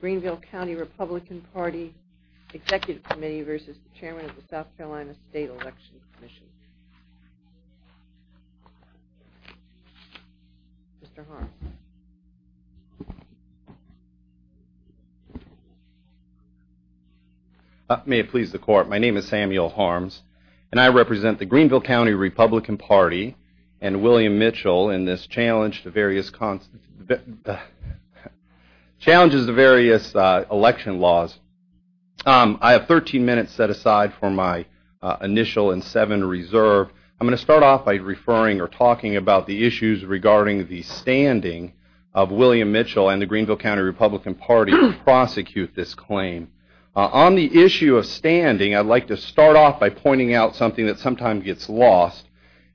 Greenville County Republican Party Executive Committee v. Chairman of the South Carolina State Election Commission Mr. Harms May it please the court, my name is Samuel Harms and I represent the Greenville County Republican Party and William Mitchell in this challenge to various... challenges to various election laws. I have 13 minutes set aside for my initial and seven reserve. I'm going to start off by referring or talking about the issues regarding the standing of William Mitchell and the Greenville County Republican Party to prosecute this claim. On the issue of standing, I'd like to start off by pointing out something that sometimes gets lost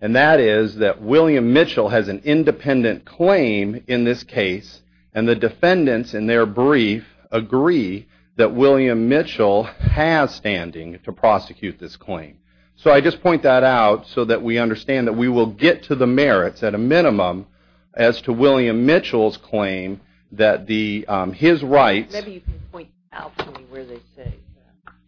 and that is that William Mitchell has an independent claim in this case and the defendants in their brief agree that William Mitchell has standing to prosecute this claim. So I just point that out so that we understand that we will get to the merits at a minimum as to William Mitchell's claim that his rights...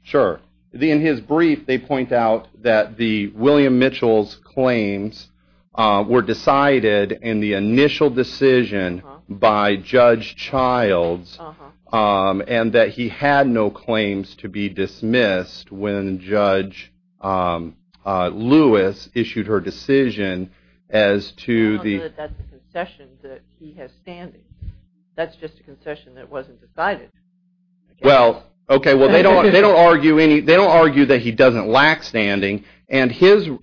Sure, in his brief they point out that the William Mitchell's claims were decided in the initial decision by Judge Childs and that he had no claims to be I don't know that that's a concession that he has standing. That's just a concession that wasn't decided. Well, okay, they don't argue that he doesn't lack standing and his... Okay,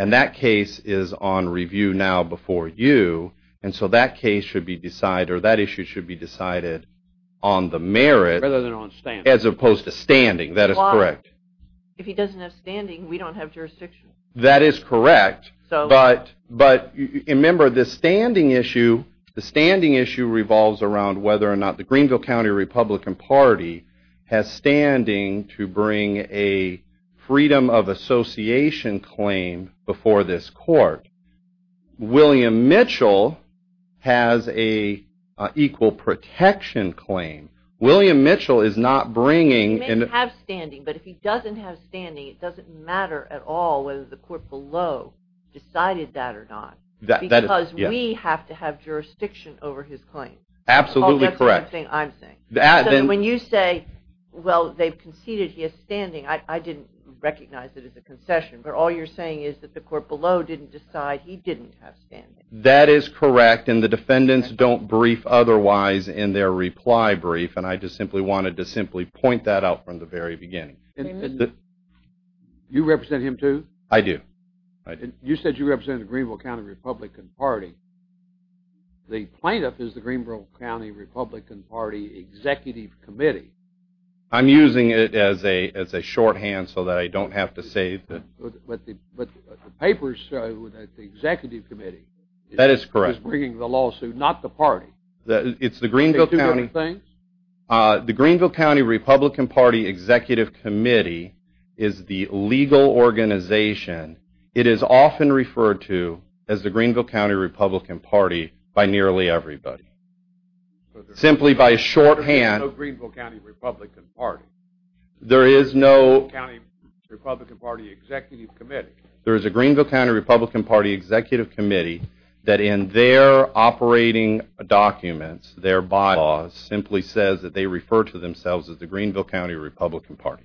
and that case is on review now before you and so that case should be decided or that issue should be decided on the merit as opposed to standing. That is correct. If he doesn't have standing, we don't have jurisdiction. That is correct, but remember the standing issue revolves around whether or not the Greenville County Republican Party has standing to bring a freedom of association claim before this court. William Mitchell has an equal protection claim. William Mitchell is not bringing... He may have standing, but if he doesn't have standing, it doesn't matter at all whether the court below decided that or not because we have to have jurisdiction over his claim. Absolutely correct. When you say, well, they've conceded he has standing, I didn't recognize it as a concession, but all you're saying is that the court below didn't decide he didn't have standing. That is correct and the defendants don't brief otherwise in their reply brief and I just simply wanted to simply point that out from the very beginning. You represent him too? I do. You said you represent the Greenville County Republican Party. The plaintiff is the Greenville County Republican Party Executive Committee. I'm using it as a shorthand so that I don't have to say... But the papers show that the Executive Committee... That is correct. The Greenville County Republican Party Executive Committee is the legal organization. It is often referred to as the Greenville County Republican Party by nearly everybody. There is no Greenville County Republican Party. There is no Greenville County Republican Party Executive Committee. There is a Greenville County Republican Party Executive Committee that in their operating documents, their bylaws, simply says that they refer to themselves as the Greenville County Republican Party.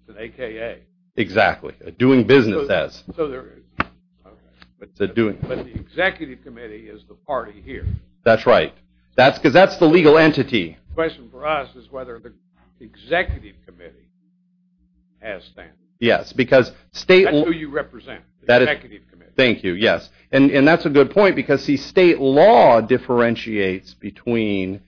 It's an AKA. Exactly. Doing business as. But the Executive Committee is the party here. That's right. Because that's the legal entity. The question for us is whether the Executive Committee has standards. That's who you represent, the Executive Committee. Thank you, yes. And that's a good point because state law differentiates between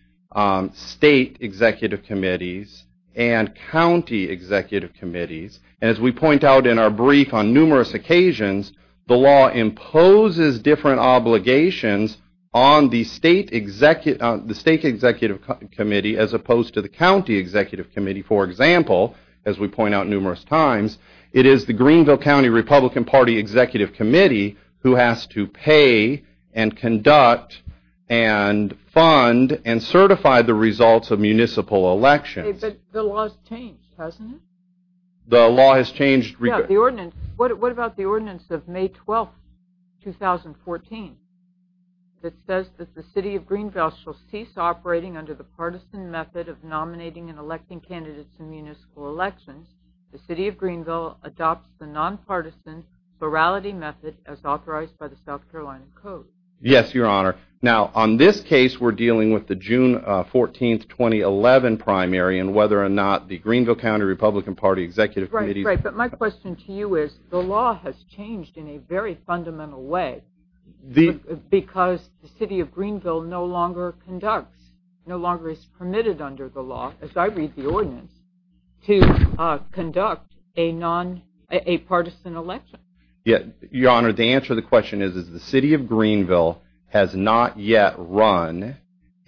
state Executive Committees and county Executive Committees. As we point out in our brief on numerous occasions, the law imposes different obligations on the state Executive Committee as opposed to the county Executive Committee. For example, as we point out numerous times, it is the Greenville County Republican Party Executive Committee who has to pay and conduct and fund and certify the results of municipal elections. But the law has changed, hasn't it? The law has changed. What about the ordinance of May 12, 2014 that says that the city of Greenville shall cease operating under the partisan method of nominating and electing candidates in municipal elections. The city of Greenville adopts the nonpartisan plurality method as authorized by the South Carolina Code. Yes, Your Honor. Now, on this case, we're dealing with the June 14, 2011 primary and whether or not the Greenville County Republican Party Executive Committee Right, right. But my question to you is the law has changed in a very fundamental way because the city of Greenville no longer conducts, no longer is permitted under the law, as I read the ordinance, to conduct a partisan election. Your Honor, the answer to the question is the city of Greenville has not yet run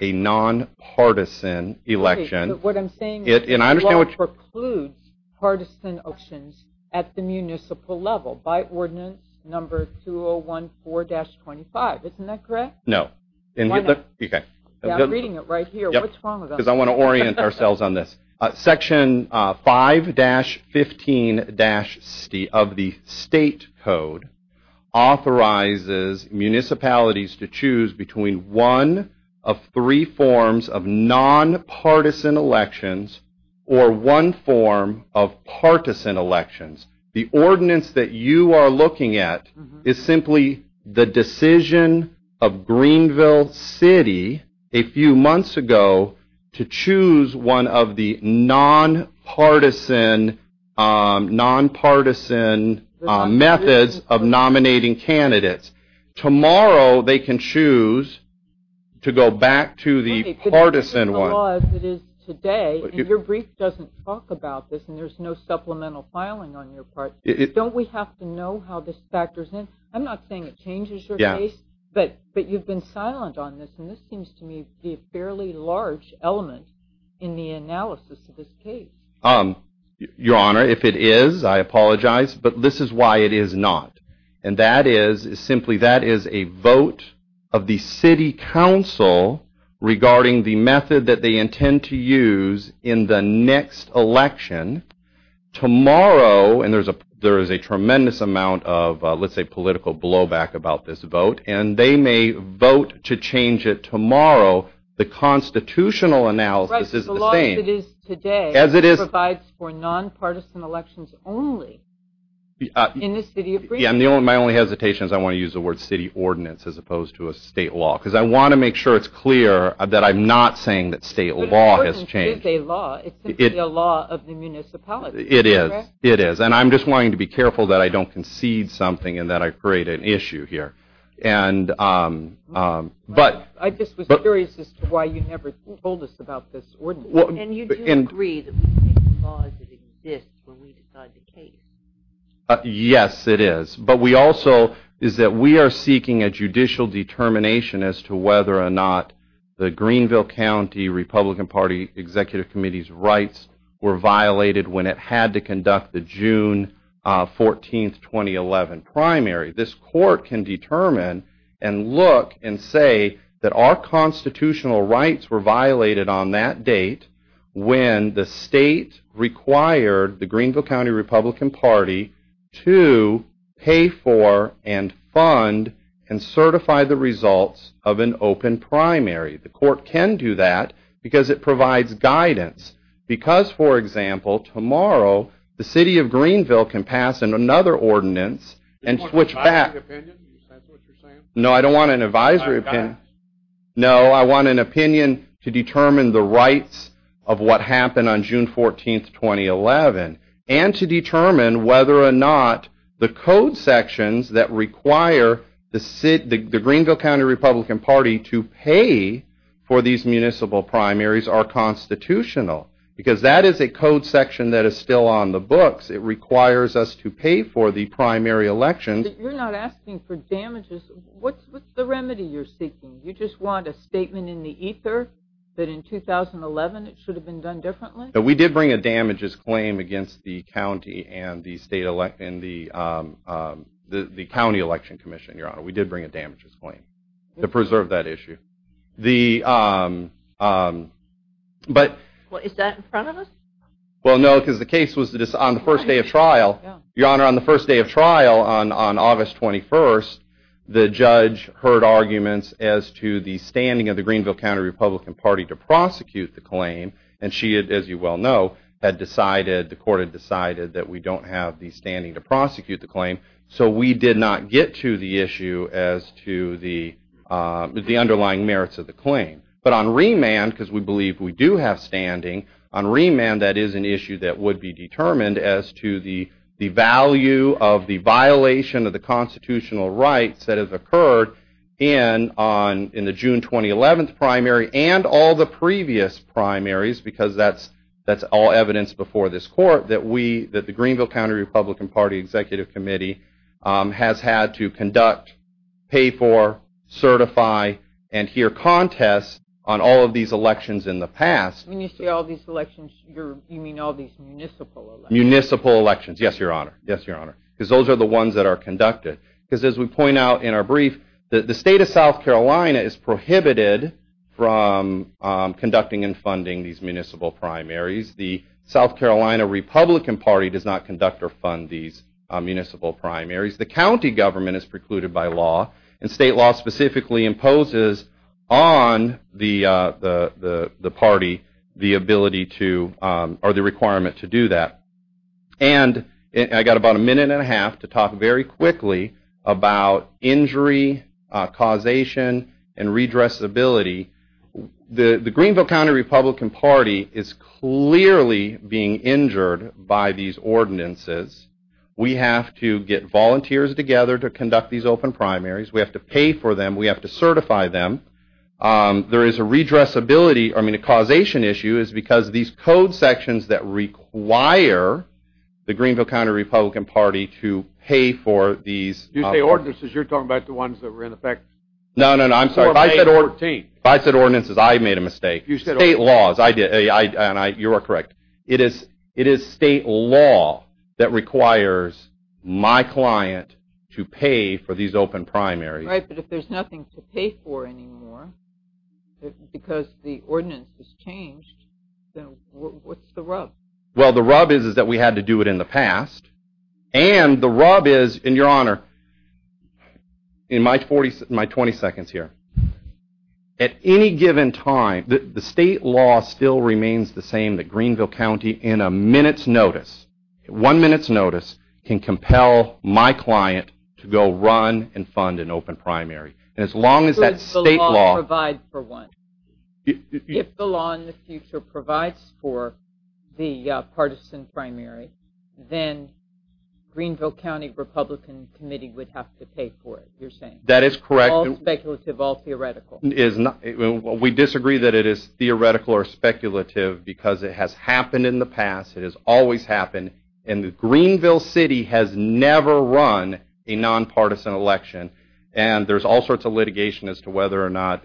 a nonpartisan election. What I'm saying is the law precludes partisan elections at the municipal level by ordinance number 2014-25. Isn't that correct? No. Why not? I'm reading it right here. What's wrong with that? Because I want to orient ourselves on this. Section 5-15 of the state code authorizes municipalities to choose between one of three forms of nonpartisan elections or one form of partisan elections. The ordinance that you are looking at is simply the decision of Greenville City a few months ago to choose one of the nonpartisan methods of nominating candidates. Tomorrow they can choose to go back to the partisan one. Your brief doesn't talk about this and there's no supplemental filing on your part. Don't we have to know how this factors in? I'm not saying it changes your case, but you've been silent on this and this seems to me to be a fairly large element in the analysis of this case. Your Honor, if it is, I apologize, but this is why it is not. And that is simply that is a vote of the city council regarding the method that they intend to use in the next election. Tomorrow, and there is a tremendous amount of let's say political blowback about this vote, and they may vote to change it tomorrow. The constitutional analysis is the same. The law as it is today provides for nonpartisan elections only in the city of Greenville. My only hesitation is I want to use the word city ordinance as opposed to a state law because I want to make sure it's clear that I'm not saying that state law has changed. But an ordinance is a law. It's simply a law of the municipality. It is. And I'm just wanting to be careful that I don't concede something and that I create an issue here. I just was curious as to why you never told us about this ordinance. And you do agree that we take the laws that exist when we decide the case. Yes, it is. But we also is that we are seeking a judicial determination as to whether or not the Greenville County Republican Party Executive Committee's rights were violated when it had to conduct the June 14, 2011 primary. This court can determine and look and say that our constitutional rights were violated on that date when the state required the Greenville County Republican Party to pay for and fund and certify the results of an open primary. The court can do that because it provides guidance. Because, for example, tomorrow the city of Greenville can pass another ordinance and switch back. Do you want an advisory opinion? Is that what you're saying? No, I don't want an advisory opinion. Not a guidance? No, I want an opinion to determine the rights of what happened on June 14, 2011 and to determine whether or not the code sections that require the Greenville County Republican Party to pay for these municipal primaries are constitutional. Because that is a code section that is still on the books. It requires us to pay for the primary elections. You're not asking for damages. What's the remedy you're seeking? You just want a statement in the ether that in 2011 it should have been done differently? We did bring a damages claim against the county and the county election commission, Your Honor. We did bring a damages claim to preserve that issue. Is that in front of us? Well, no, because the case was on the first day of trial. Your Honor, on the first day of trial on August 21st, the judge heard arguments as to the standing of the Greenville County Republican Party to prosecute the claim. And she, as you well know, had decided, the court had decided, that we don't have the standing to prosecute the claim. So we did not get to the issue as to the underlying merits of the claim. But on remand, because we believe we do have standing, on remand that is an issue that would be determined as to the value of the violation of the constitutional rights that have occurred in the June 2011 primary and all the previous primaries, because that's all evidence before this court that the Greenville County Republican Party Executive Committee has had to conduct, pay for, certify, and hear contests on all of these elections in the past. When you say all these elections, you mean all these municipal elections? Municipal elections, yes, Your Honor. Yes, Your Honor. Because those are the ones that are conducted. Because as we point out in our brief, the state of South Carolina is prohibited from conducting and funding these municipal primaries. The South Carolina Republican Party does not conduct or fund these municipal primaries. The county government is precluded by law, and state law specifically imposes on the party the ability to, or the requirement to do that. And I've got about a minute and a half to talk very quickly about injury, causation, and redressability. The Greenville County Republican Party is clearly being injured by these ordinances. We have to get volunteers together to conduct these open primaries. We have to pay for them. We have to certify them. There is a redressability, I mean a causation issue, is because these code sections that require the Greenville County Republican Party to pay for these... You say ordinances. You're talking about the ones that were in effect... No, no, no. I'm sorry. If I said ordinances, I made a mistake. State laws. You are correct. It is state law that requires my client to pay for these open primaries. Right, but if there's nothing to pay for anymore, because the ordinance has changed, then what's the rub? Well, the rub is that we had to do it in the past, and the rub is, in your honor, in my 20 seconds here, at any given time, the state law still remains the same that Greenville County, in a minute's notice, one minute's notice, can compel my client to go run and fund an open primary. And as long as that state law... If the law provides for one. If the law in the future provides for the partisan primary, then Greenville County Republican Committee would have to pay for it, you're saying. That is correct. All speculative, all theoretical. We disagree that it is theoretical or speculative because it has happened in the past. It has always happened, and Greenville City has never run a nonpartisan election, and there's all sorts of litigation as to whether or not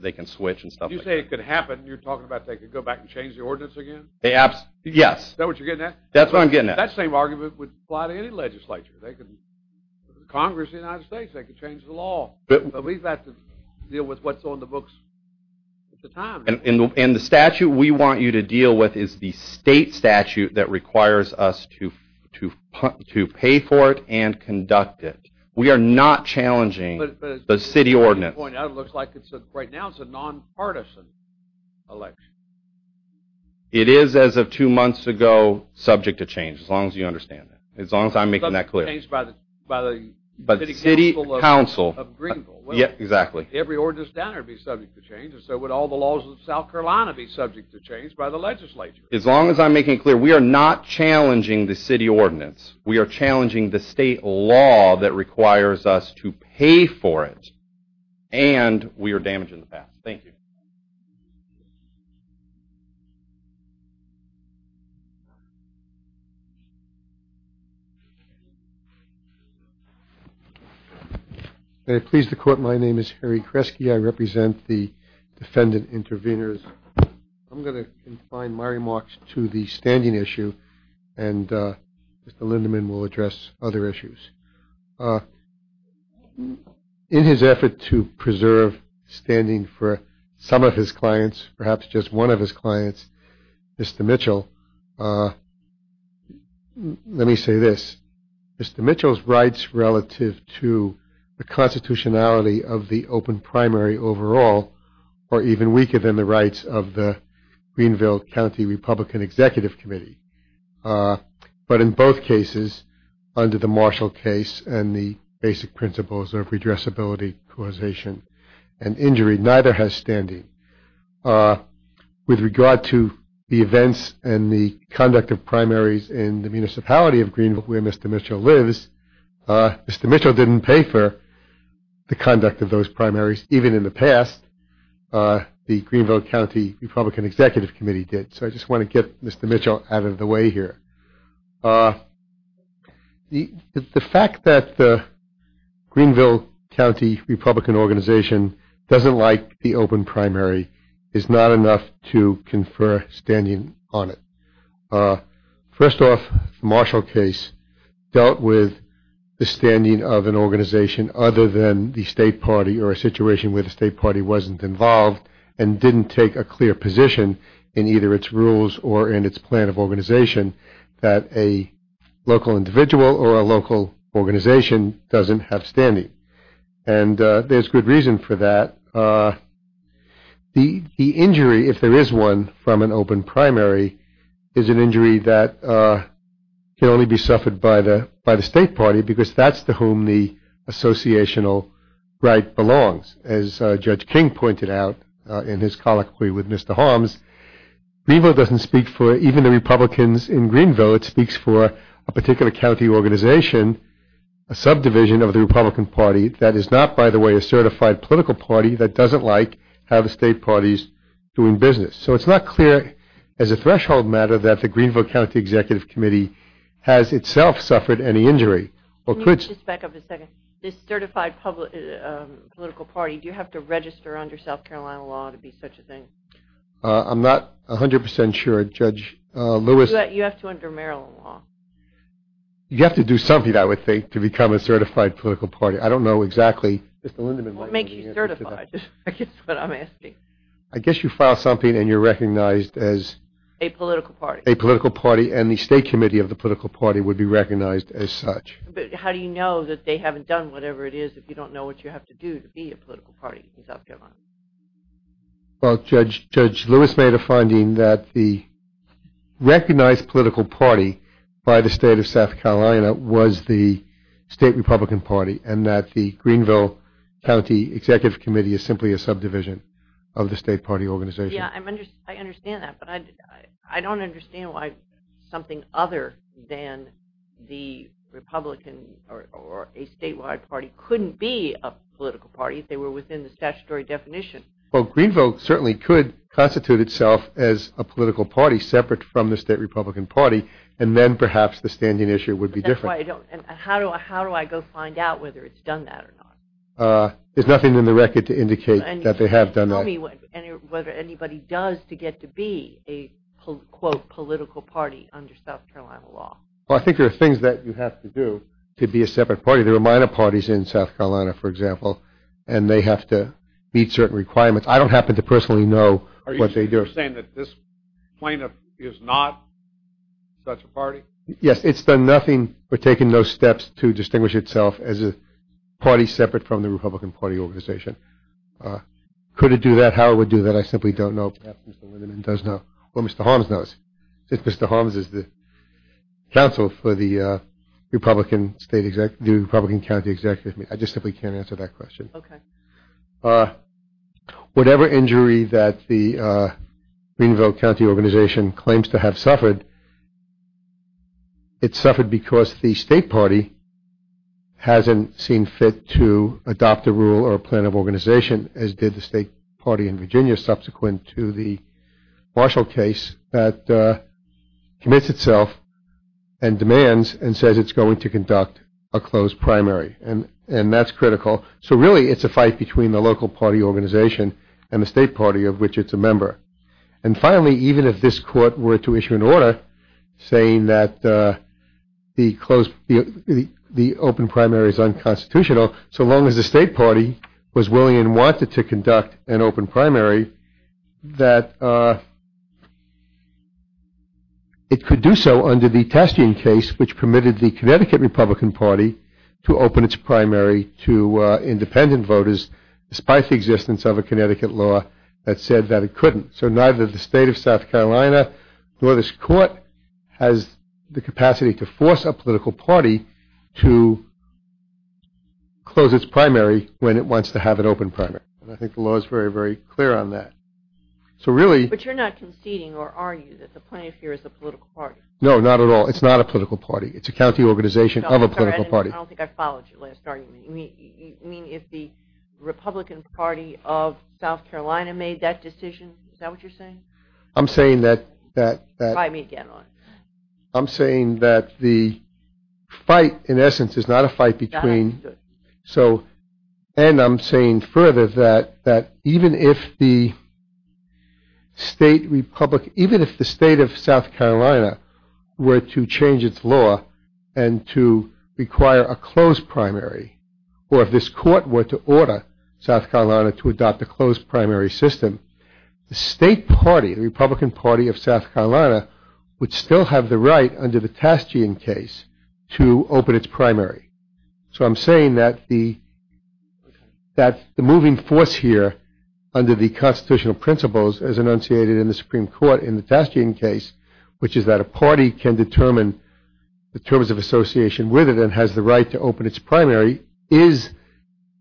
they can switch and stuff like that. You say it could happen. You're talking about they could go back and change the ordinance again? Yes. Is that what you're getting at? That's what I'm getting at. That same argument would apply to any legislature. Congress of the United States, they could change the law. But we've got to deal with what's on the books at the time. And the statute we want you to deal with is the state statute that requires us to pay for it and conduct it. We are not challenging the city ordinance. But as you pointed out, it looks like right now it's a nonpartisan election. It is, as of two months ago, subject to change, as long as you understand that. As long as I'm making that clear. Subject to change by the City Council of Greenville? Yes, exactly. Every ordinance down there would be subject to change, and so would all the laws of South Carolina be subject to change by the legislature? As long as I'm making it clear, we are not challenging the city ordinance. We are challenging the state law that requires us to pay for it, and we are damaging the past. Thank you. May I please the court? My name is Harry Kresge. I represent the defendant intervenors. I'm going to confine my remarks to the standing issue, and Mr. Lindemann will address other issues. In his effort to preserve standing for some of his clients, perhaps just one of his clients, Mr. Mitchell, let me say this. Mr. Mitchell's rights relative to the constitutionality of the open primary overall are even weaker than the rights of the Greenville County Republican Executive Committee. But in both cases, under the Marshall case and the basic principles of redressability, causation, and injury, neither has standing. With regard to the events and the conduct of primaries in the municipality of Greenville, where Mr. Mitchell lives, Mr. Mitchell didn't pay for the conduct of those primaries. Even in the past, the Greenville County Republican Executive Committee did. So I just want to get Mr. Mitchell out of the way here. The fact that the Greenville County Republican Organization doesn't like the open primary is not enough to confer standing on it. First off, the Marshall case dealt with the standing of an organization other than the state party or a situation where the state party wasn't involved and didn't take a clear position in either its rules or in its plan of organization. That a local individual or a local organization doesn't have standing. And there's good reason for that. The injury, if there is one, from an open primary is an injury that can only be suffered by the state party because that's to whom the associational right belongs. As Judge King pointed out in his colloquy with Mr. Holmes, Greenville doesn't speak for even the Republicans in Greenville. It speaks for a particular county organization, a subdivision of the Republican Party that is not, by the way, a certified political party that doesn't like how the state party is doing business. So it's not clear as a threshold matter that the Greenville County Executive Committee has itself suffered any injury. Just back up a second. This certified political party, do you have to register under South Carolina law to be such a thing? I'm not 100% sure. Judge Lewis? You have to under Maryland law. You have to do something, I would think, to become a certified political party. I don't know exactly. What makes you certified? That's what I'm asking. I guess you file something and you're recognized as... A political party. A political party and the state committee of the political party would be recognized as such. But how do you know that they haven't done whatever it is if you don't know what you have to do to be a political party in South Carolina? Well, Judge Lewis made a finding that the recognized political party by the state of South Carolina was the state Republican Party and that the Greenville County Executive Committee is simply a subdivision of the state party organization. Yeah, I understand that, but I don't understand why something other than the Republican or a statewide party couldn't be a political party if they were within the statutory definition. Well, Greenville certainly could constitute itself as a political party separate from the state Republican party and then perhaps the standing issue would be different. How do I go find out whether it's done that or not? There's nothing in the record to indicate that they have done that. Tell me whether anybody does to get to be a, quote, political party under South Carolina law. Well, I think there are things that you have to do to be a separate party. There are minor parties in South Carolina, for example, and they have to meet certain requirements. I don't happen to personally know what they do. Are you saying that this plaintiff is not such a party? Yes, it's done nothing or taken no steps to distinguish itself as a party separate from the Republican Party organization. Could it do that? How it would do that? I simply don't know. Well, Mr. Holmes knows. Mr. Holmes is the counsel for the Republican State Executive, the Republican County Executive. I just simply can't answer that question. Okay. Whatever injury that the Greenville County organization claims to have suffered, it suffered because the state party hasn't seen fit to adopt a rule or a plan of organization as did the state party in Virginia subsequent to the Marshall case that commits itself and demands and says it's going to conduct a closed primary. And that's critical. So really it's a fight between the local party organization and the state party of which it's a member. And finally, even if this court were to issue an order saying that the open primary is unconstitutional, so long as the state party was willing and wanted to conduct an open primary, that it could do so under the testing case which permitted the Connecticut Republican Party to open its primary to independent voters despite the existence of a Connecticut law that said that it couldn't. So neither the state of South Carolina nor this court has the capacity to force a political party to close its primary when it wants to have an open primary. And I think the law is very, very clear on that. So really – But you're not conceding or arguing that the plaintiff here is a political party. No, not at all. It's not a political party. It's a county organization of a political party. I don't think I followed your last argument. You mean if the Republican Party of South Carolina made that decision? Is that what you're saying? I'm saying that – Try me again. I'm saying that the fight, in essence, is not a fight between – Got it. And I'm saying further that even if the state of South Carolina were to change its law and to require a closed primary or if this court were to order South Carolina to adopt a closed primary system, the state party, the Republican Party of South Carolina, would still have the right under the Taschian case to open its primary. So I'm saying that the moving force here under the constitutional principles, as enunciated in the Supreme Court in the Taschian case, which is that a party can determine the terms of association with it and has the right to open its primary, is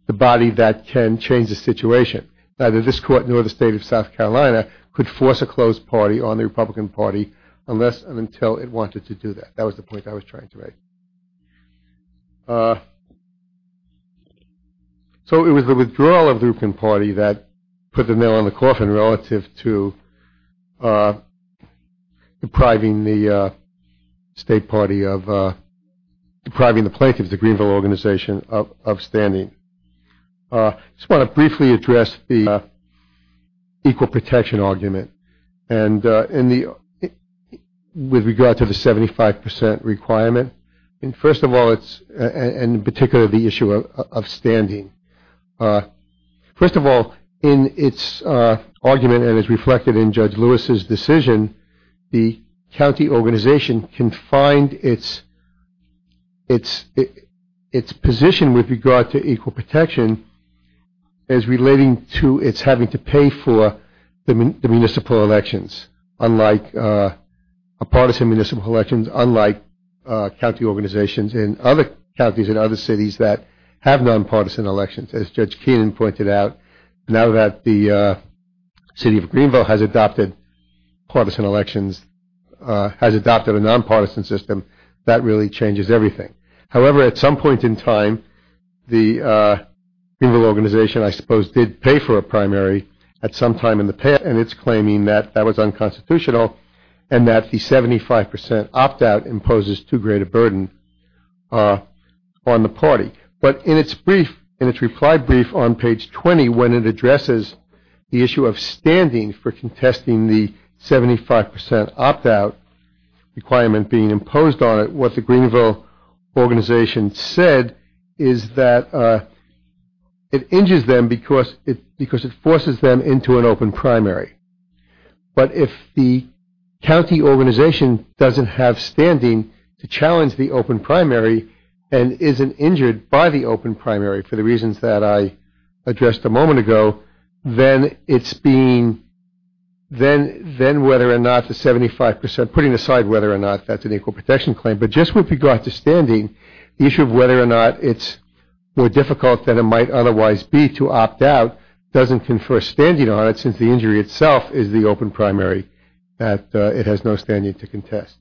the body that can change the situation. Neither this court nor the state of South Carolina could force a closed party on the Republican Party unless and until it wanted to do that. That was the point I was trying to make. So it was the withdrawal of the Republican Party that put the nail on the coffin relative to depriving the state party of – depriving the plaintiffs, the Greenville Organization, of standing. I just want to briefly address the equal protection argument with regard to the 75 percent requirement. First of all, and in particular, the issue of standing. First of all, in its argument and as reflected in Judge Lewis's decision, the county organization can find its position with regard to equal protection as relating to its having to pay for the municipal elections, unlike partisan municipal elections, unlike county organizations in other counties and other cities that have nonpartisan elections. As Judge Keenan pointed out, now that the city of Greenville has adopted partisan elections, has adopted a nonpartisan system, that really changes everything. However, at some point in time, the Greenville Organization, I suppose, did pay for a primary at some time in the past, and it's claiming that that was unconstitutional and that the 75 percent opt-out imposes too great a burden on the party. But in its brief, in its reply brief on page 20, when it addresses the issue of standing for contesting the 75 percent opt-out requirement being imposed on it, what the Greenville Organization said is that it injures them because it forces them into an open primary. But if the county organization doesn't have standing to challenge the open primary and isn't injured by the open primary for the reasons that I addressed a moment ago, then it's being, then whether or not the 75 percent, putting aside whether or not that's an equal protection claim, but just with regard to standing, the issue of whether or not it's more difficult than it might otherwise be to opt-out doesn't confer standing on it since the injury itself is the open primary that it has no standing to contest.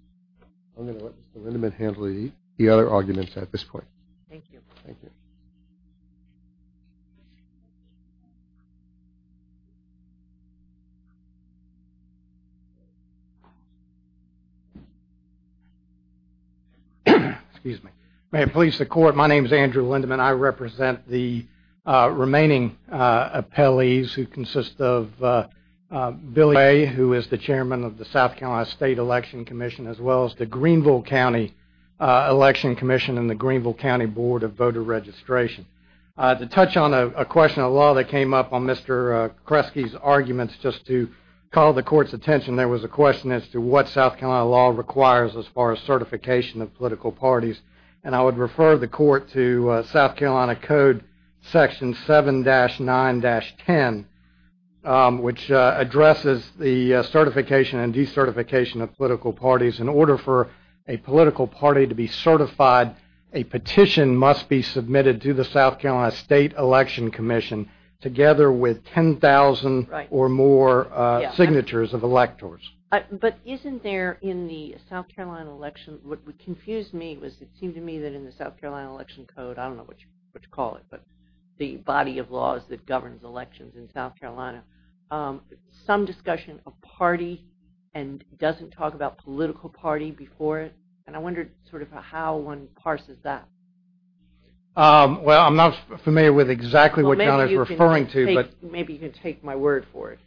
I'm going to let Mr. Lindeman handle the other arguments at this point. Thank you. Thank you. Excuse me. May it please the court, my name is Andrew Lindeman. I represent the remaining appellees who consist of Billy Ray, who is the chairman of the South Carolina State Election Commission, as well as the Greenville County Election Commission and the Greenville County Board of Voter Registration. To touch on a question of law that came up on Mr. Kresge's arguments, just to call the court's attention, there was a question as to what South Carolina law requires as far as certification of political parties, and I would refer the court to South Carolina Code Section 7-9-10, which addresses the certification and decertification of political parties. In order for a political party to be certified, a petition must be submitted to the South Carolina State Election Commission, together with 10,000 or more signatures of electors. But isn't there in the South Carolina election, what confused me was it seemed to me that in the South Carolina Election Code, I don't know what you call it, but the body of laws that governs elections in South Carolina, some discussion of party and doesn't talk about political party before it, and I wondered sort of how one parses that. Well, I'm not familiar with exactly what you're referring to. Maybe you can take my word for it,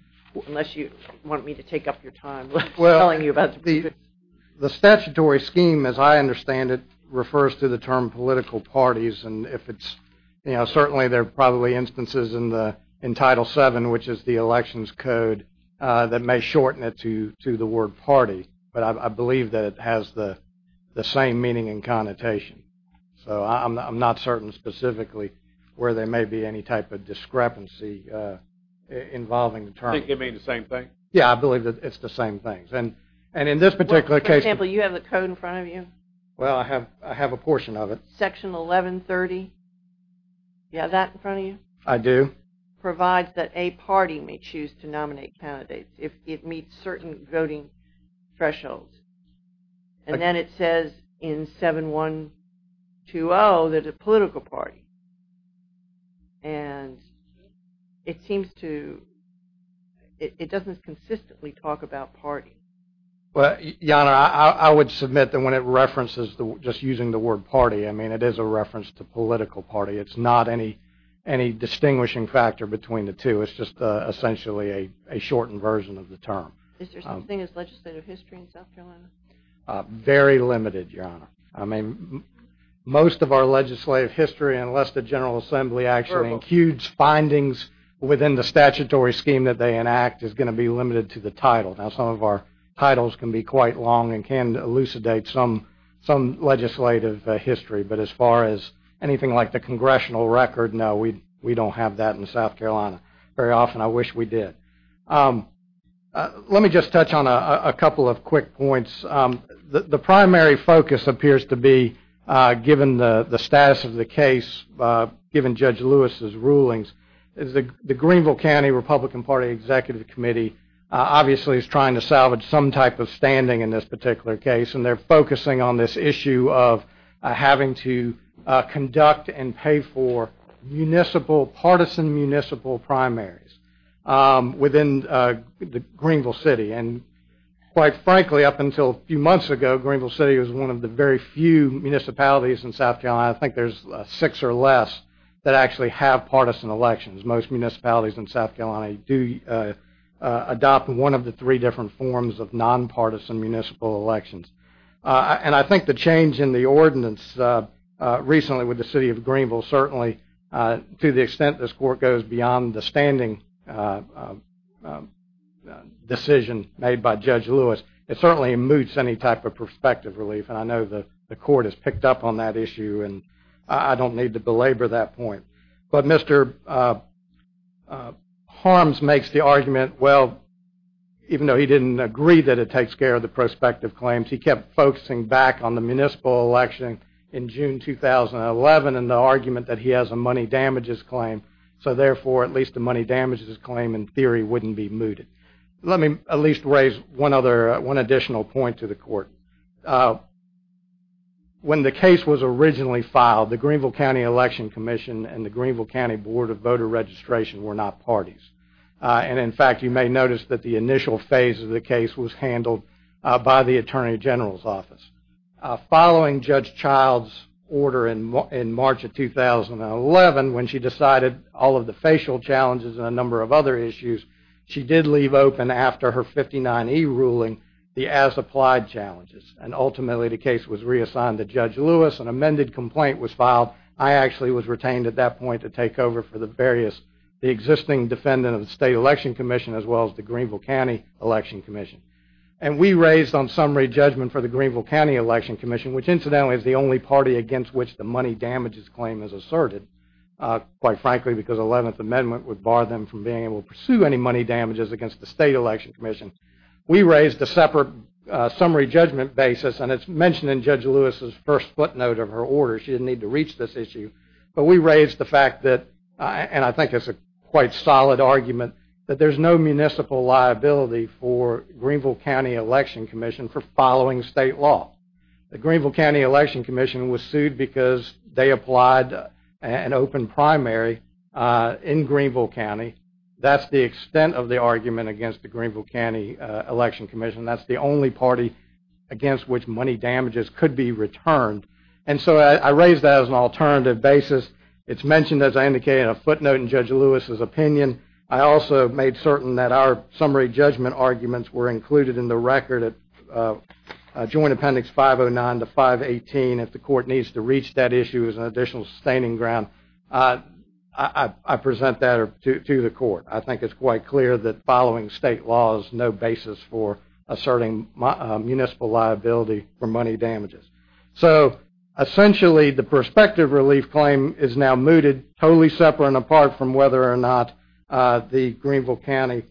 unless you want me to take up your time. Well, the statutory scheme, as I understand it, refers to the term political parties, and certainly there are probably instances in Title 7, which is the elections code, that may shorten it to the word party, but I believe that it has the same meaning and connotation. So I'm not certain specifically where there may be any type of discrepancy involving the term. You think it means the same thing? Yeah, I believe that it's the same thing. For example, you have the code in front of you? Well, I have a portion of it. Section 1130, you have that in front of you? I do. Provides that a party may choose to nominate candidates if it meets certain voting thresholds. And then it says in 7120 that a political party, and it doesn't consistently talk about party. Well, Jana, I would submit that when it references just using the word party, I mean, it is a reference to political party. It's not any distinguishing factor between the two. It's just essentially a shortened version of the term. Is there something as legislative history in South Carolina? Very limited, Your Honor. I mean, most of our legislative history, unless the General Assembly actually encues findings within the statutory scheme that they enact, is going to be limited to the title. Now, some of our titles can be quite long and can elucidate some legislative history, but as far as anything like the congressional record, no, we don't have that in South Carolina. Very often, I wish we did. Let me just touch on a couple of quick points. The primary focus appears to be, given the status of the case, given Judge Lewis's rulings, is the Greenville County Republican Party Executive Committee obviously is trying to salvage some type of standing in this particular case, and they're focusing on this issue of having to conduct and pay for partisan municipal primaries within Greenville City. And quite frankly, up until a few months ago, Greenville City was one of the very few municipalities in South Carolina, I think there's six or less, that actually have partisan elections. Most municipalities in South Carolina do adopt one of the three different forms of nonpartisan municipal elections. And I think the change in the ordinance recently with the city of Greenville certainly, to the extent this court goes beyond the standing decision made by Judge Lewis, it certainly moots any type of prospective relief. And I know the court has picked up on that issue, and I don't need to belabor that point. But Mr. Harms makes the argument, well, even though he didn't agree that it takes care of the prospective claims, he kept focusing back on the municipal election in June 2011, and the argument that he has a money damages claim, so therefore at least the money damages claim in theory wouldn't be mooted. Let me at least raise one additional point to the court. When the case was originally filed, the Greenville County Election Commission and the Greenville County Board of Voter Registration were not parties. And in fact, you may notice that the initial phase of the case was handled by the Attorney General's office. Following Judge Child's order in March of 2011, when she decided all of the facial challenges and a number of other issues, she did leave open after her 59E ruling the as-applied challenges, and ultimately the case was reassigned to Judge Lewis. An amended complaint was filed. I actually was retained at that point to take over for the existing defendant of the State Election Commission as well as the Greenville County Election Commission. And we raised on summary judgment for the Greenville County Election Commission, which incidentally is the only party against which the money damages claim is asserted, quite frankly because the 11th Amendment would bar them from being able to pursue any money damages against the State Election Commission. We raised a separate summary judgment basis, and it's mentioned in Judge Lewis's first footnote of her order. She didn't need to reach this issue. But we raised the fact that, and I think it's a quite solid argument, that there's no municipal liability for Greenville County Election Commission for following state law. The Greenville County Election Commission was sued because they applied an open primary in Greenville County. That's the extent of the argument against the Greenville County Election Commission. That's the only party against which money damages could be returned. And so I raised that as an alternative basis. It's mentioned, as I indicated, in a footnote in Judge Lewis's opinion. I also made certain that our summary judgment arguments were included in the record at Joint Appendix 509 to 518 if the court needs to reach that issue as an additional sustaining ground. I present that to the court. I think it's quite clear that following state law is no basis for asserting municipal liability for money damages. So essentially the prospective relief claim is now mooted, totally separate and apart from whether or not the Greenville County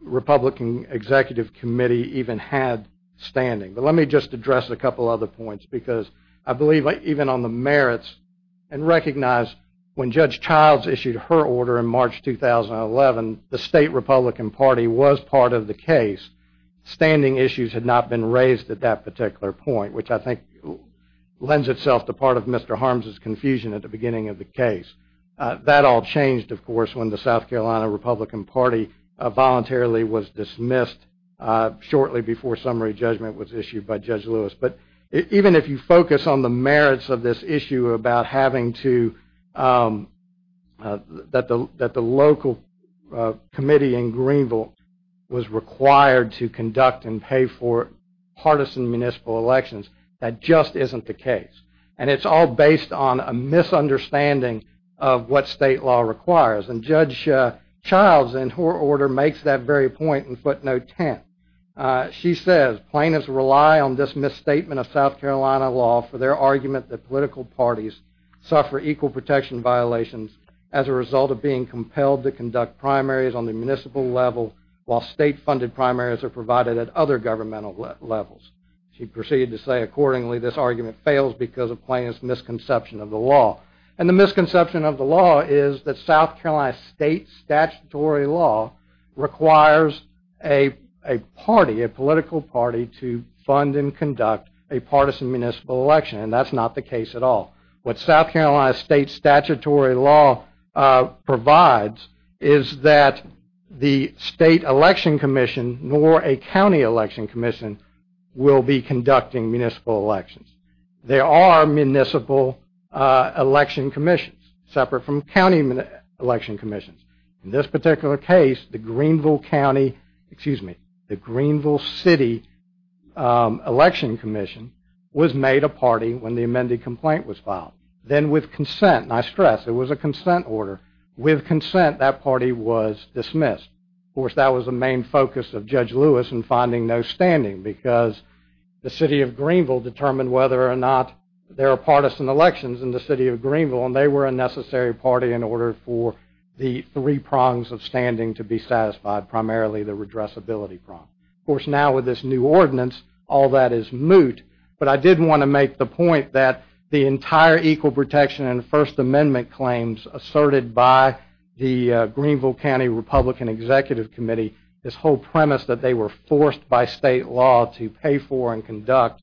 Republican Executive Committee even had standing. But let me just address a couple other points because I believe even on the merits and recognize when Judge Childs issued her order in March 2011, the state Republican Party was part of the case. Standing issues had not been raised at that particular point, which I think lends itself to part of Mr. Harms' confusion at the beginning of the case. That all changed, of course, when the South Carolina Republican Party voluntarily was dismissed shortly before summary judgment was issued by Judge Lewis. But even if you focus on the merits of this issue about having to, that the local committee in Greenville was required to conduct and pay for partisan municipal elections, that just isn't the case. And it's all based on a misunderstanding of what state law requires. And Judge Childs, in her order, makes that very point in footnote 10. She says, plaintiffs rely on this misstatement of South Carolina law for their argument that political parties suffer equal protection violations as a result of being compelled to conduct primaries on the municipal level while state-funded primaries are provided at other governmental levels. She proceeded to say, accordingly, this argument fails because of plaintiffs' misconception of the law. And the misconception of the law is that South Carolina state statutory law requires a party, a political party, to fund and conduct a partisan municipal election, and that's not the case at all. What South Carolina state statutory law provides is that the state election commission, nor a county election commission, will be conducting municipal elections. There are municipal election commissions separate from county election commissions. In this particular case, the Greenville County, excuse me, the Greenville City Election Commission was made a party when the amended complaint was filed. Then with consent, and I stress, it was a consent order, with consent that party was dismissed. Of course, that was the main focus of Judge Lewis in finding no standing because the city of Greenville determined whether or not there are partisan elections in the city of Greenville, and they were a necessary party in order for the three prongs of standing to be satisfied, primarily the redressability prong. Of course, now with this new ordinance, all that is moot, but I did want to make the point that the entire equal protection and First Amendment claims asserted by the Greenville County Republican Executive Committee, this whole premise that they were forced by state law to pay for and conduct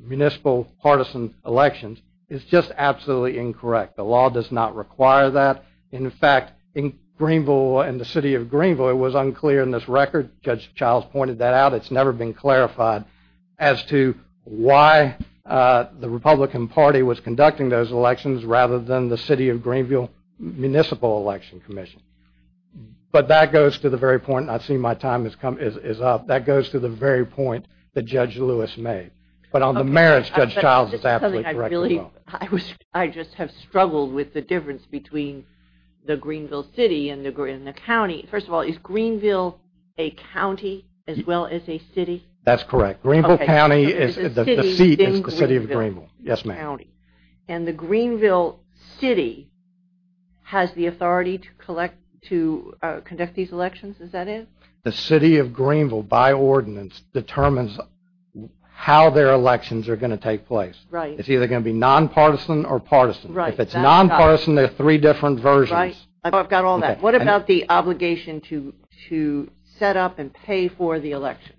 municipal partisan elections is just absolutely incorrect. The law does not require that. In fact, in Greenville and the city of Greenville, it was unclear in this record. Judge Childs pointed that out. It's never been clarified as to why the Republican Party was conducting those elections rather than the city of Greenville Municipal Election Commission. But that goes to the very point, and I see my time is up. That goes to the very point that Judge Lewis made. But on the merits, Judge Childs is absolutely correct as well. I just have struggled with the difference between the Greenville city and the county. First of all, is Greenville a county as well as a city? That's correct. Greenville County, the seat is the city of Greenville. Yes, ma'am. And the Greenville city has the authority to conduct these elections, is that it? The city of Greenville, by ordinance, determines how their elections are going to take place. Right. It's either going to be nonpartisan or partisan. If it's nonpartisan, there are three different versions. Right. I've got all that. What about the obligation to set up and pay for the election?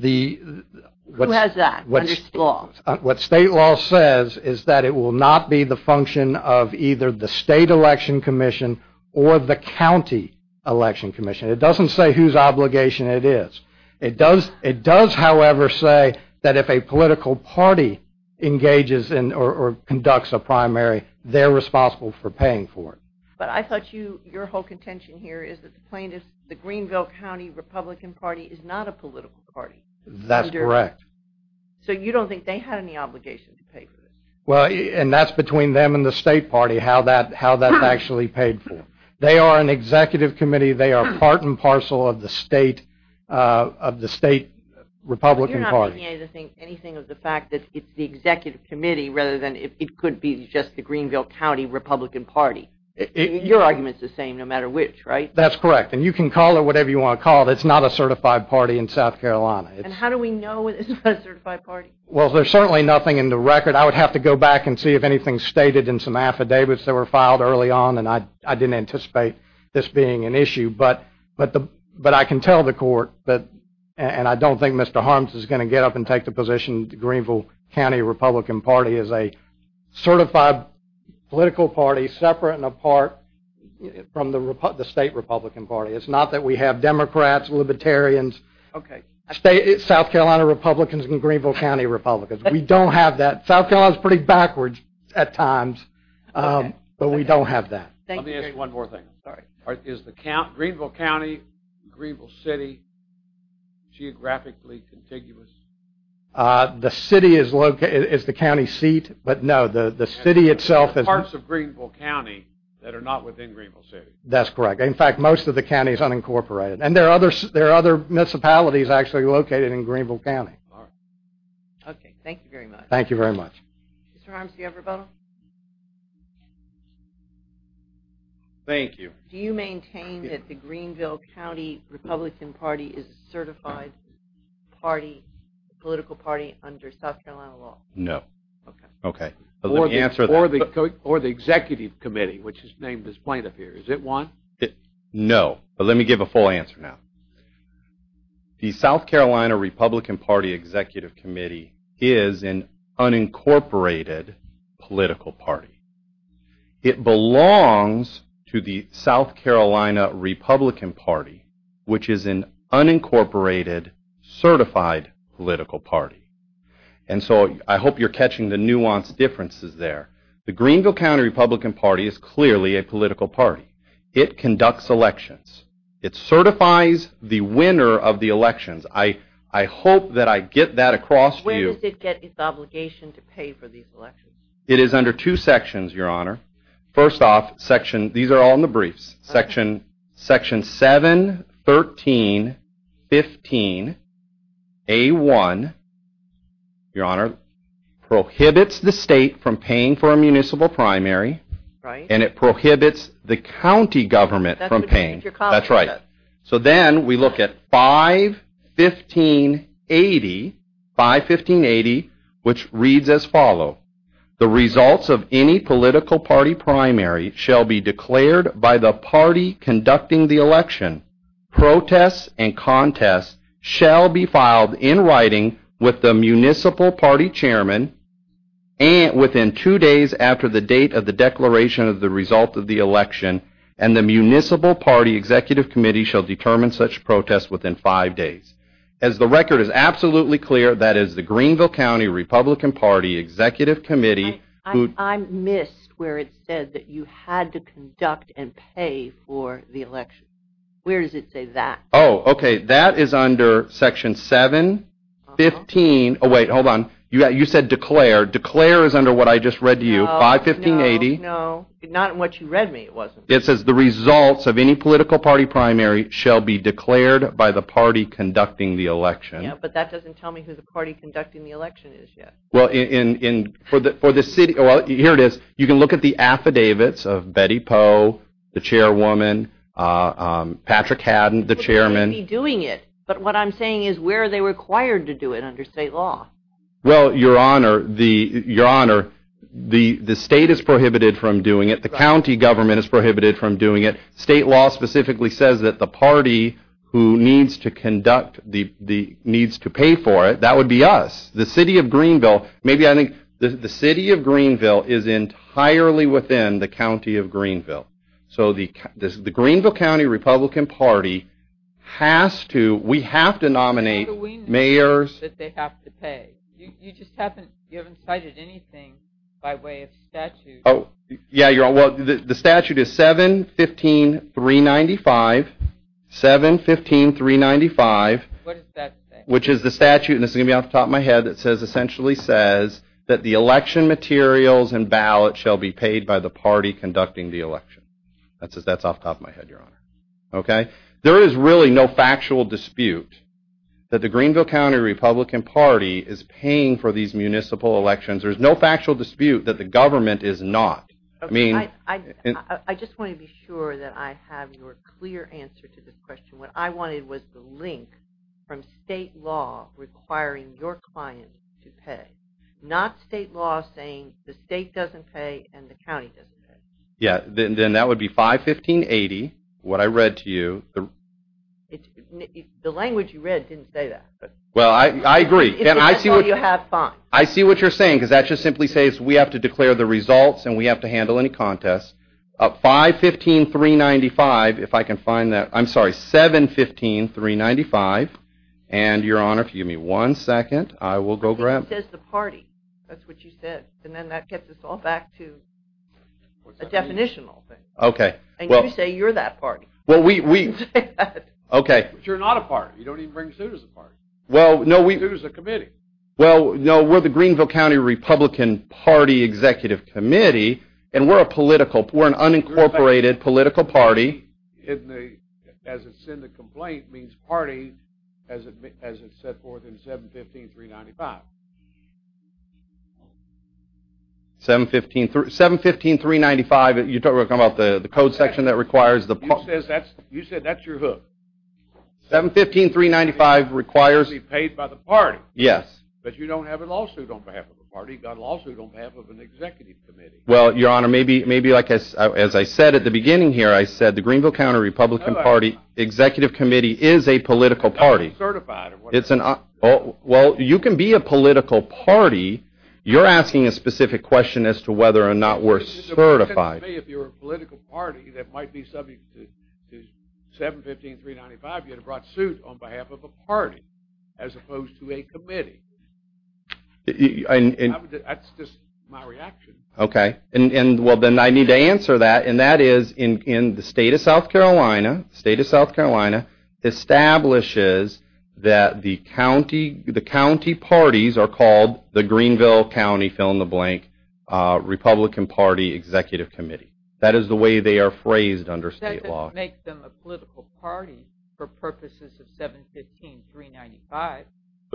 Who has that under state law? What state law says is that it will not be the function of either the state election commission or the county election commission. It doesn't say whose obligation it is. It does, however, say that if a political party engages or conducts a primary, they're responsible for paying for it. But I thought your whole contention here is that the Greenville County Republican Party is not a political party. That's correct. So you don't think they had any obligation to pay for this? Well, and that's between them and the state party how that's actually paid for. They are an executive committee. They are part and parcel of the state Republican Party. But you're not making anything of the fact that it's the executive committee rather than it could be just the Greenville County Republican Party. Your argument's the same no matter which, right? That's correct. And you can call it whatever you want to call it. It's not a certified party in South Carolina. And how do we know it's not a certified party? Well, there's certainly nothing in the record. I would have to go back and see if anything's stated in some affidavits that were filed early on, and I didn't anticipate this being an issue. But I can tell the court, and I don't think Mr. Harms is going to get up and take the position the Greenville County Republican Party is a certified political party separate and apart from the state Republican Party. It's not that we have Democrats, Libertarians, South Carolina Republicans and Greenville County Republicans. We don't have that. South Carolina's pretty backwards at times, but we don't have that. Let me ask you one more thing. Is the Greenville County, Greenville City geographically contiguous? The city is the county seat, but no, the city itself is not. There are parts of Greenville County that are not within Greenville City. That's correct. In fact, most of the county is unincorporated. And there are other municipalities actually located in Greenville County. Okay, thank you very much. Thank you very much. Mr. Harms, do you have a rebuttal? Thank you. Do you maintain that the Greenville County Republican Party is a certified political party under South Carolina law? No. Okay. Or the executive committee, which is named as plaintiff here. Is it one? No, but let me give a full answer now. The South Carolina Republican Party Executive Committee is an unincorporated political party. It belongs to the South Carolina Republican Party, which is an unincorporated certified political party. And so I hope you're catching the nuanced differences there. The Greenville County Republican Party is clearly a political party. It conducts elections. It certifies the winner of the elections. I hope that I get that across to you. Where does it get its obligation to pay for these elections? It is under two sections, Your Honor. First off, these are all in the briefs. Section 71315A1, Your Honor, prohibits the state from paying for a municipal primary, and it prohibits the county government from paying. That's right. So then we look at 51580, which reads as follows. The results of any political party primary shall be declared by the party conducting the election. Protests and contests shall be filed in writing with the municipal party chairman within two days after the date of the declaration of the result of the election and the municipal party executive committee shall determine such protests within five days. As the record is absolutely clear, that is the Greenville County Republican Party executive committee. I missed where it said that you had to conduct and pay for the election. Where does it say that? Oh, okay. That is under section 715. Oh, wait. Hold on. You said declare. Declare is under what I just read to you, 51580. Oh, no, no. Not in what you read me, it wasn't. It says the results of any political party primary shall be declared by the party conducting the election. Yeah, but that doesn't tell me who the party conducting the election is yet. Well, here it is. You can look at the affidavits of Betty Poe, the chairwoman, Patrick Haddon, the chairman. But what I'm saying is, where are they required to do it under state law? Well, Your Honor, the state is prohibited from doing it. The county government is prohibited from doing it. State law specifically says that the party who needs to conduct, needs to pay for it, that would be us. The city of Greenville, maybe I think, the city of Greenville is entirely within the county of Greenville. So the Greenville County Republican Party has to, we have to nominate mayors. They have to pay. You just haven't cited anything by way of statute. Oh, yeah, Your Honor. Well, the statute is 7-15-395. 7-15-395. What does that say? Which is the statute, and this is going to be off the top of my head, that essentially says that the election materials and ballots shall be paid by the party conducting the election. That's off the top of my head, Your Honor. There is really no factual dispute that the Greenville County Republican Party is paying for these municipal elections. There's no factual dispute that the government is not. Okay, I just want to be sure that I have your clear answer to this question. What I wanted was the link from state law requiring your client to pay, not state law saying the state doesn't pay and the county doesn't pay. Yeah, then that would be 5-15-80, what I read to you. The language you read didn't say that. Well, I agree. If that's all you have, fine. I see what you're saying, because that just simply says we have to declare the results and we have to handle any contest. 5-15-395, if I can find that. I'm sorry, 7-15-395. And, Your Honor, if you give me one second, I will go grab... It says the party. That's what you said. And then that gets us all back to a definitional thing. Okay. And you say you're that party. Well, we... Okay. But you're not a party. You don't even bring suit as a party. Well, no, we... Suit as a committee. Well, no, we're the party executive committee, and we're a political... We're an unincorporated political party. As it's in the complaint, it means party, as it's set forth in 7-15-395. 7-15-395, you're talking about the code section that requires the... You said that's your hook. 7-15-395 requires... It has to be paid by the party. Yes. But you don't have a lawsuit on behalf of the party. You've got a lawsuit on behalf of an executive committee. Well, Your Honor, maybe, like I said, as I said at the beginning here, I said the Greenville County Republican Party executive committee is a political party. It's not certified. It's an... Well, you can be a political party. You're asking a specific question as to whether or not we're certified. If you're a political party that might be subject to 7-15-395, you'd have brought suit on behalf of a party as opposed to a committee. That's just my reaction. Okay. Well, then I need to answer that, and that is in the state of South Carolina, the state of South Carolina establishes that the county parties are called the Greenville County fill-in-the-blank Republican Party executive committee. That is the way they are phrased under state law. That doesn't make them a political party for purposes of 7-15-395.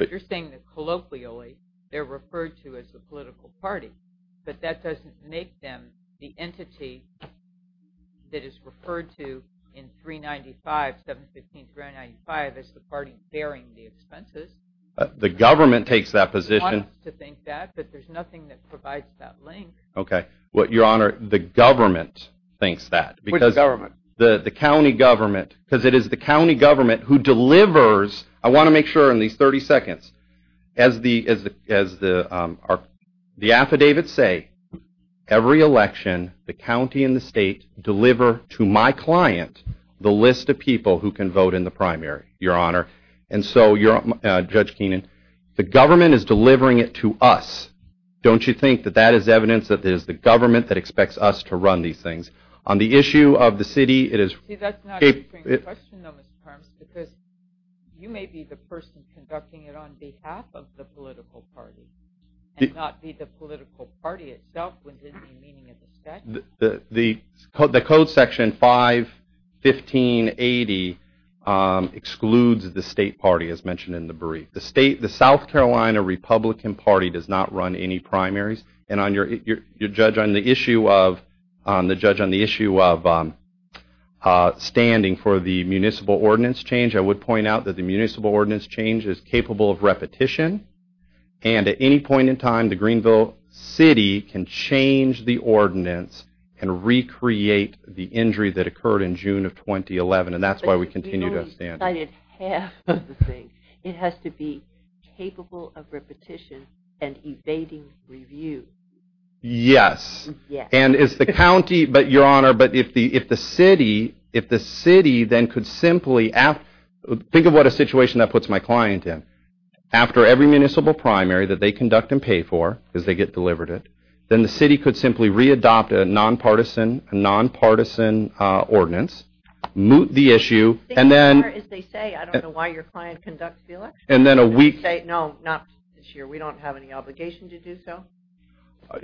You're saying that colloquially they're referred to as a political party, but that doesn't make them the entity that is referred to in 395, 7-15-395, as the party bearing the expenses. The government takes that position. They want us to think that, but there's nothing that provides that link. Okay. Your Honor, the government thinks that. Which government? The county government, because it is the county government who delivers... I want to make sure in these 30 seconds, as the affidavits say, every election, the county and the state deliver to my client the list of people who can vote in the primary, Your Honor. And so, Judge Keenan, the government is delivering it to us. Don't you think that that is evidence that it is the government that expects us to run these things? On the issue of the city, it is... See, that's not a good question though, Mr. Parmes, because you may be the person conducting it on behalf of the political party and not be the political party itself within the meaning of the statute. The code section 51580 excludes the state party, as mentioned in the brief. The South Carolina Republican Party does not run any primaries. And on your... Your Judge, on the issue of... The Judge, on the issue of standing for the municipal ordinance change, I would point out that the municipal ordinance change is capable of repetition. And at any point in time, the Greenville City can change the ordinance and recreate the injury that occurred in June of 2011. And that's why we continue to stand. But you only cited half of the thing. It has to be capable of repetition and evading review. Yes. Yes. And it's the county... But, Your Honor, but if the city... If the city then could simply... Think of what a situation that puts my client in. After every municipal primary that they conduct and pay for, because they get delivered it, then the city could simply re-adopt a nonpartisan... a nonpartisan ordinance, moot the issue, and then... As they say, I don't know why your client conducts the election. And then a week... No, not this year. We don't have any obligation to do so.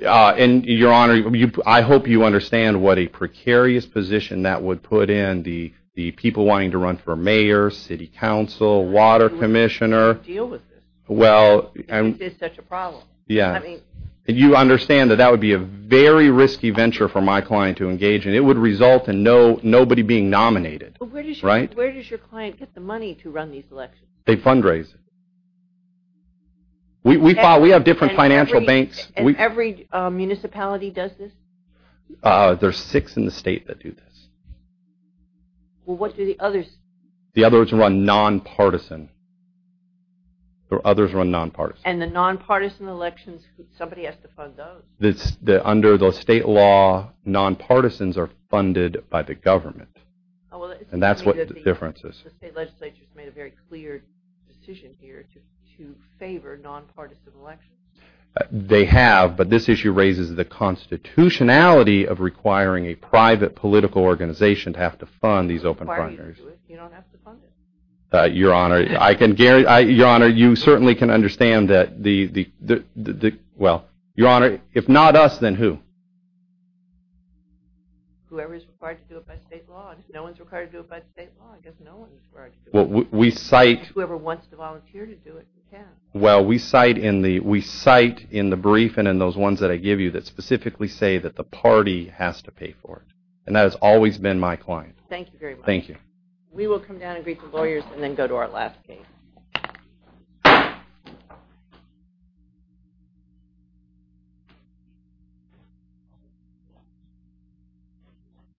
And, Your Honor, I hope you understand what a precarious position that would put in the people wanting to run for mayor, city council, water commissioner. How do you deal with this? Well... This is such a problem. Yes. I mean... And you understand that that would be a very risky venture for my client to engage in. It would result in nobody being nominated. Right? Where does your client get the money to run these elections? They fundraise. We have different financial banks. And every municipality does this? There's six in the state that do this. Well, what do the others... The others run non-partisan. The others run non-partisan. And the non-partisan elections, somebody has to fund those. Under the state law, non-partisans are funded by the government. And that's what the difference is. The state legislature has made a very clear decision here to favor non-partisan elections. They have, but this issue raises the constitutionality of requiring a private political organization to have to fund these open frontiers. You don't have to fund it. Your Honor, I can guarantee... Your Honor, you certainly can understand that the... Well, Your Honor, if not us, then who? Whoever is required to do it by state law. If no one's required to do it by state law, I guess no one's required to do it. We cite... Whoever wants to volunteer to do it, you can. Well, we cite in the... We cite in the brief and in those ones that I give you that specifically say that the party has to pay for it. And that has always been my client. Thank you very much. Thank you. We will come down and greet the lawyers and then go to our last case.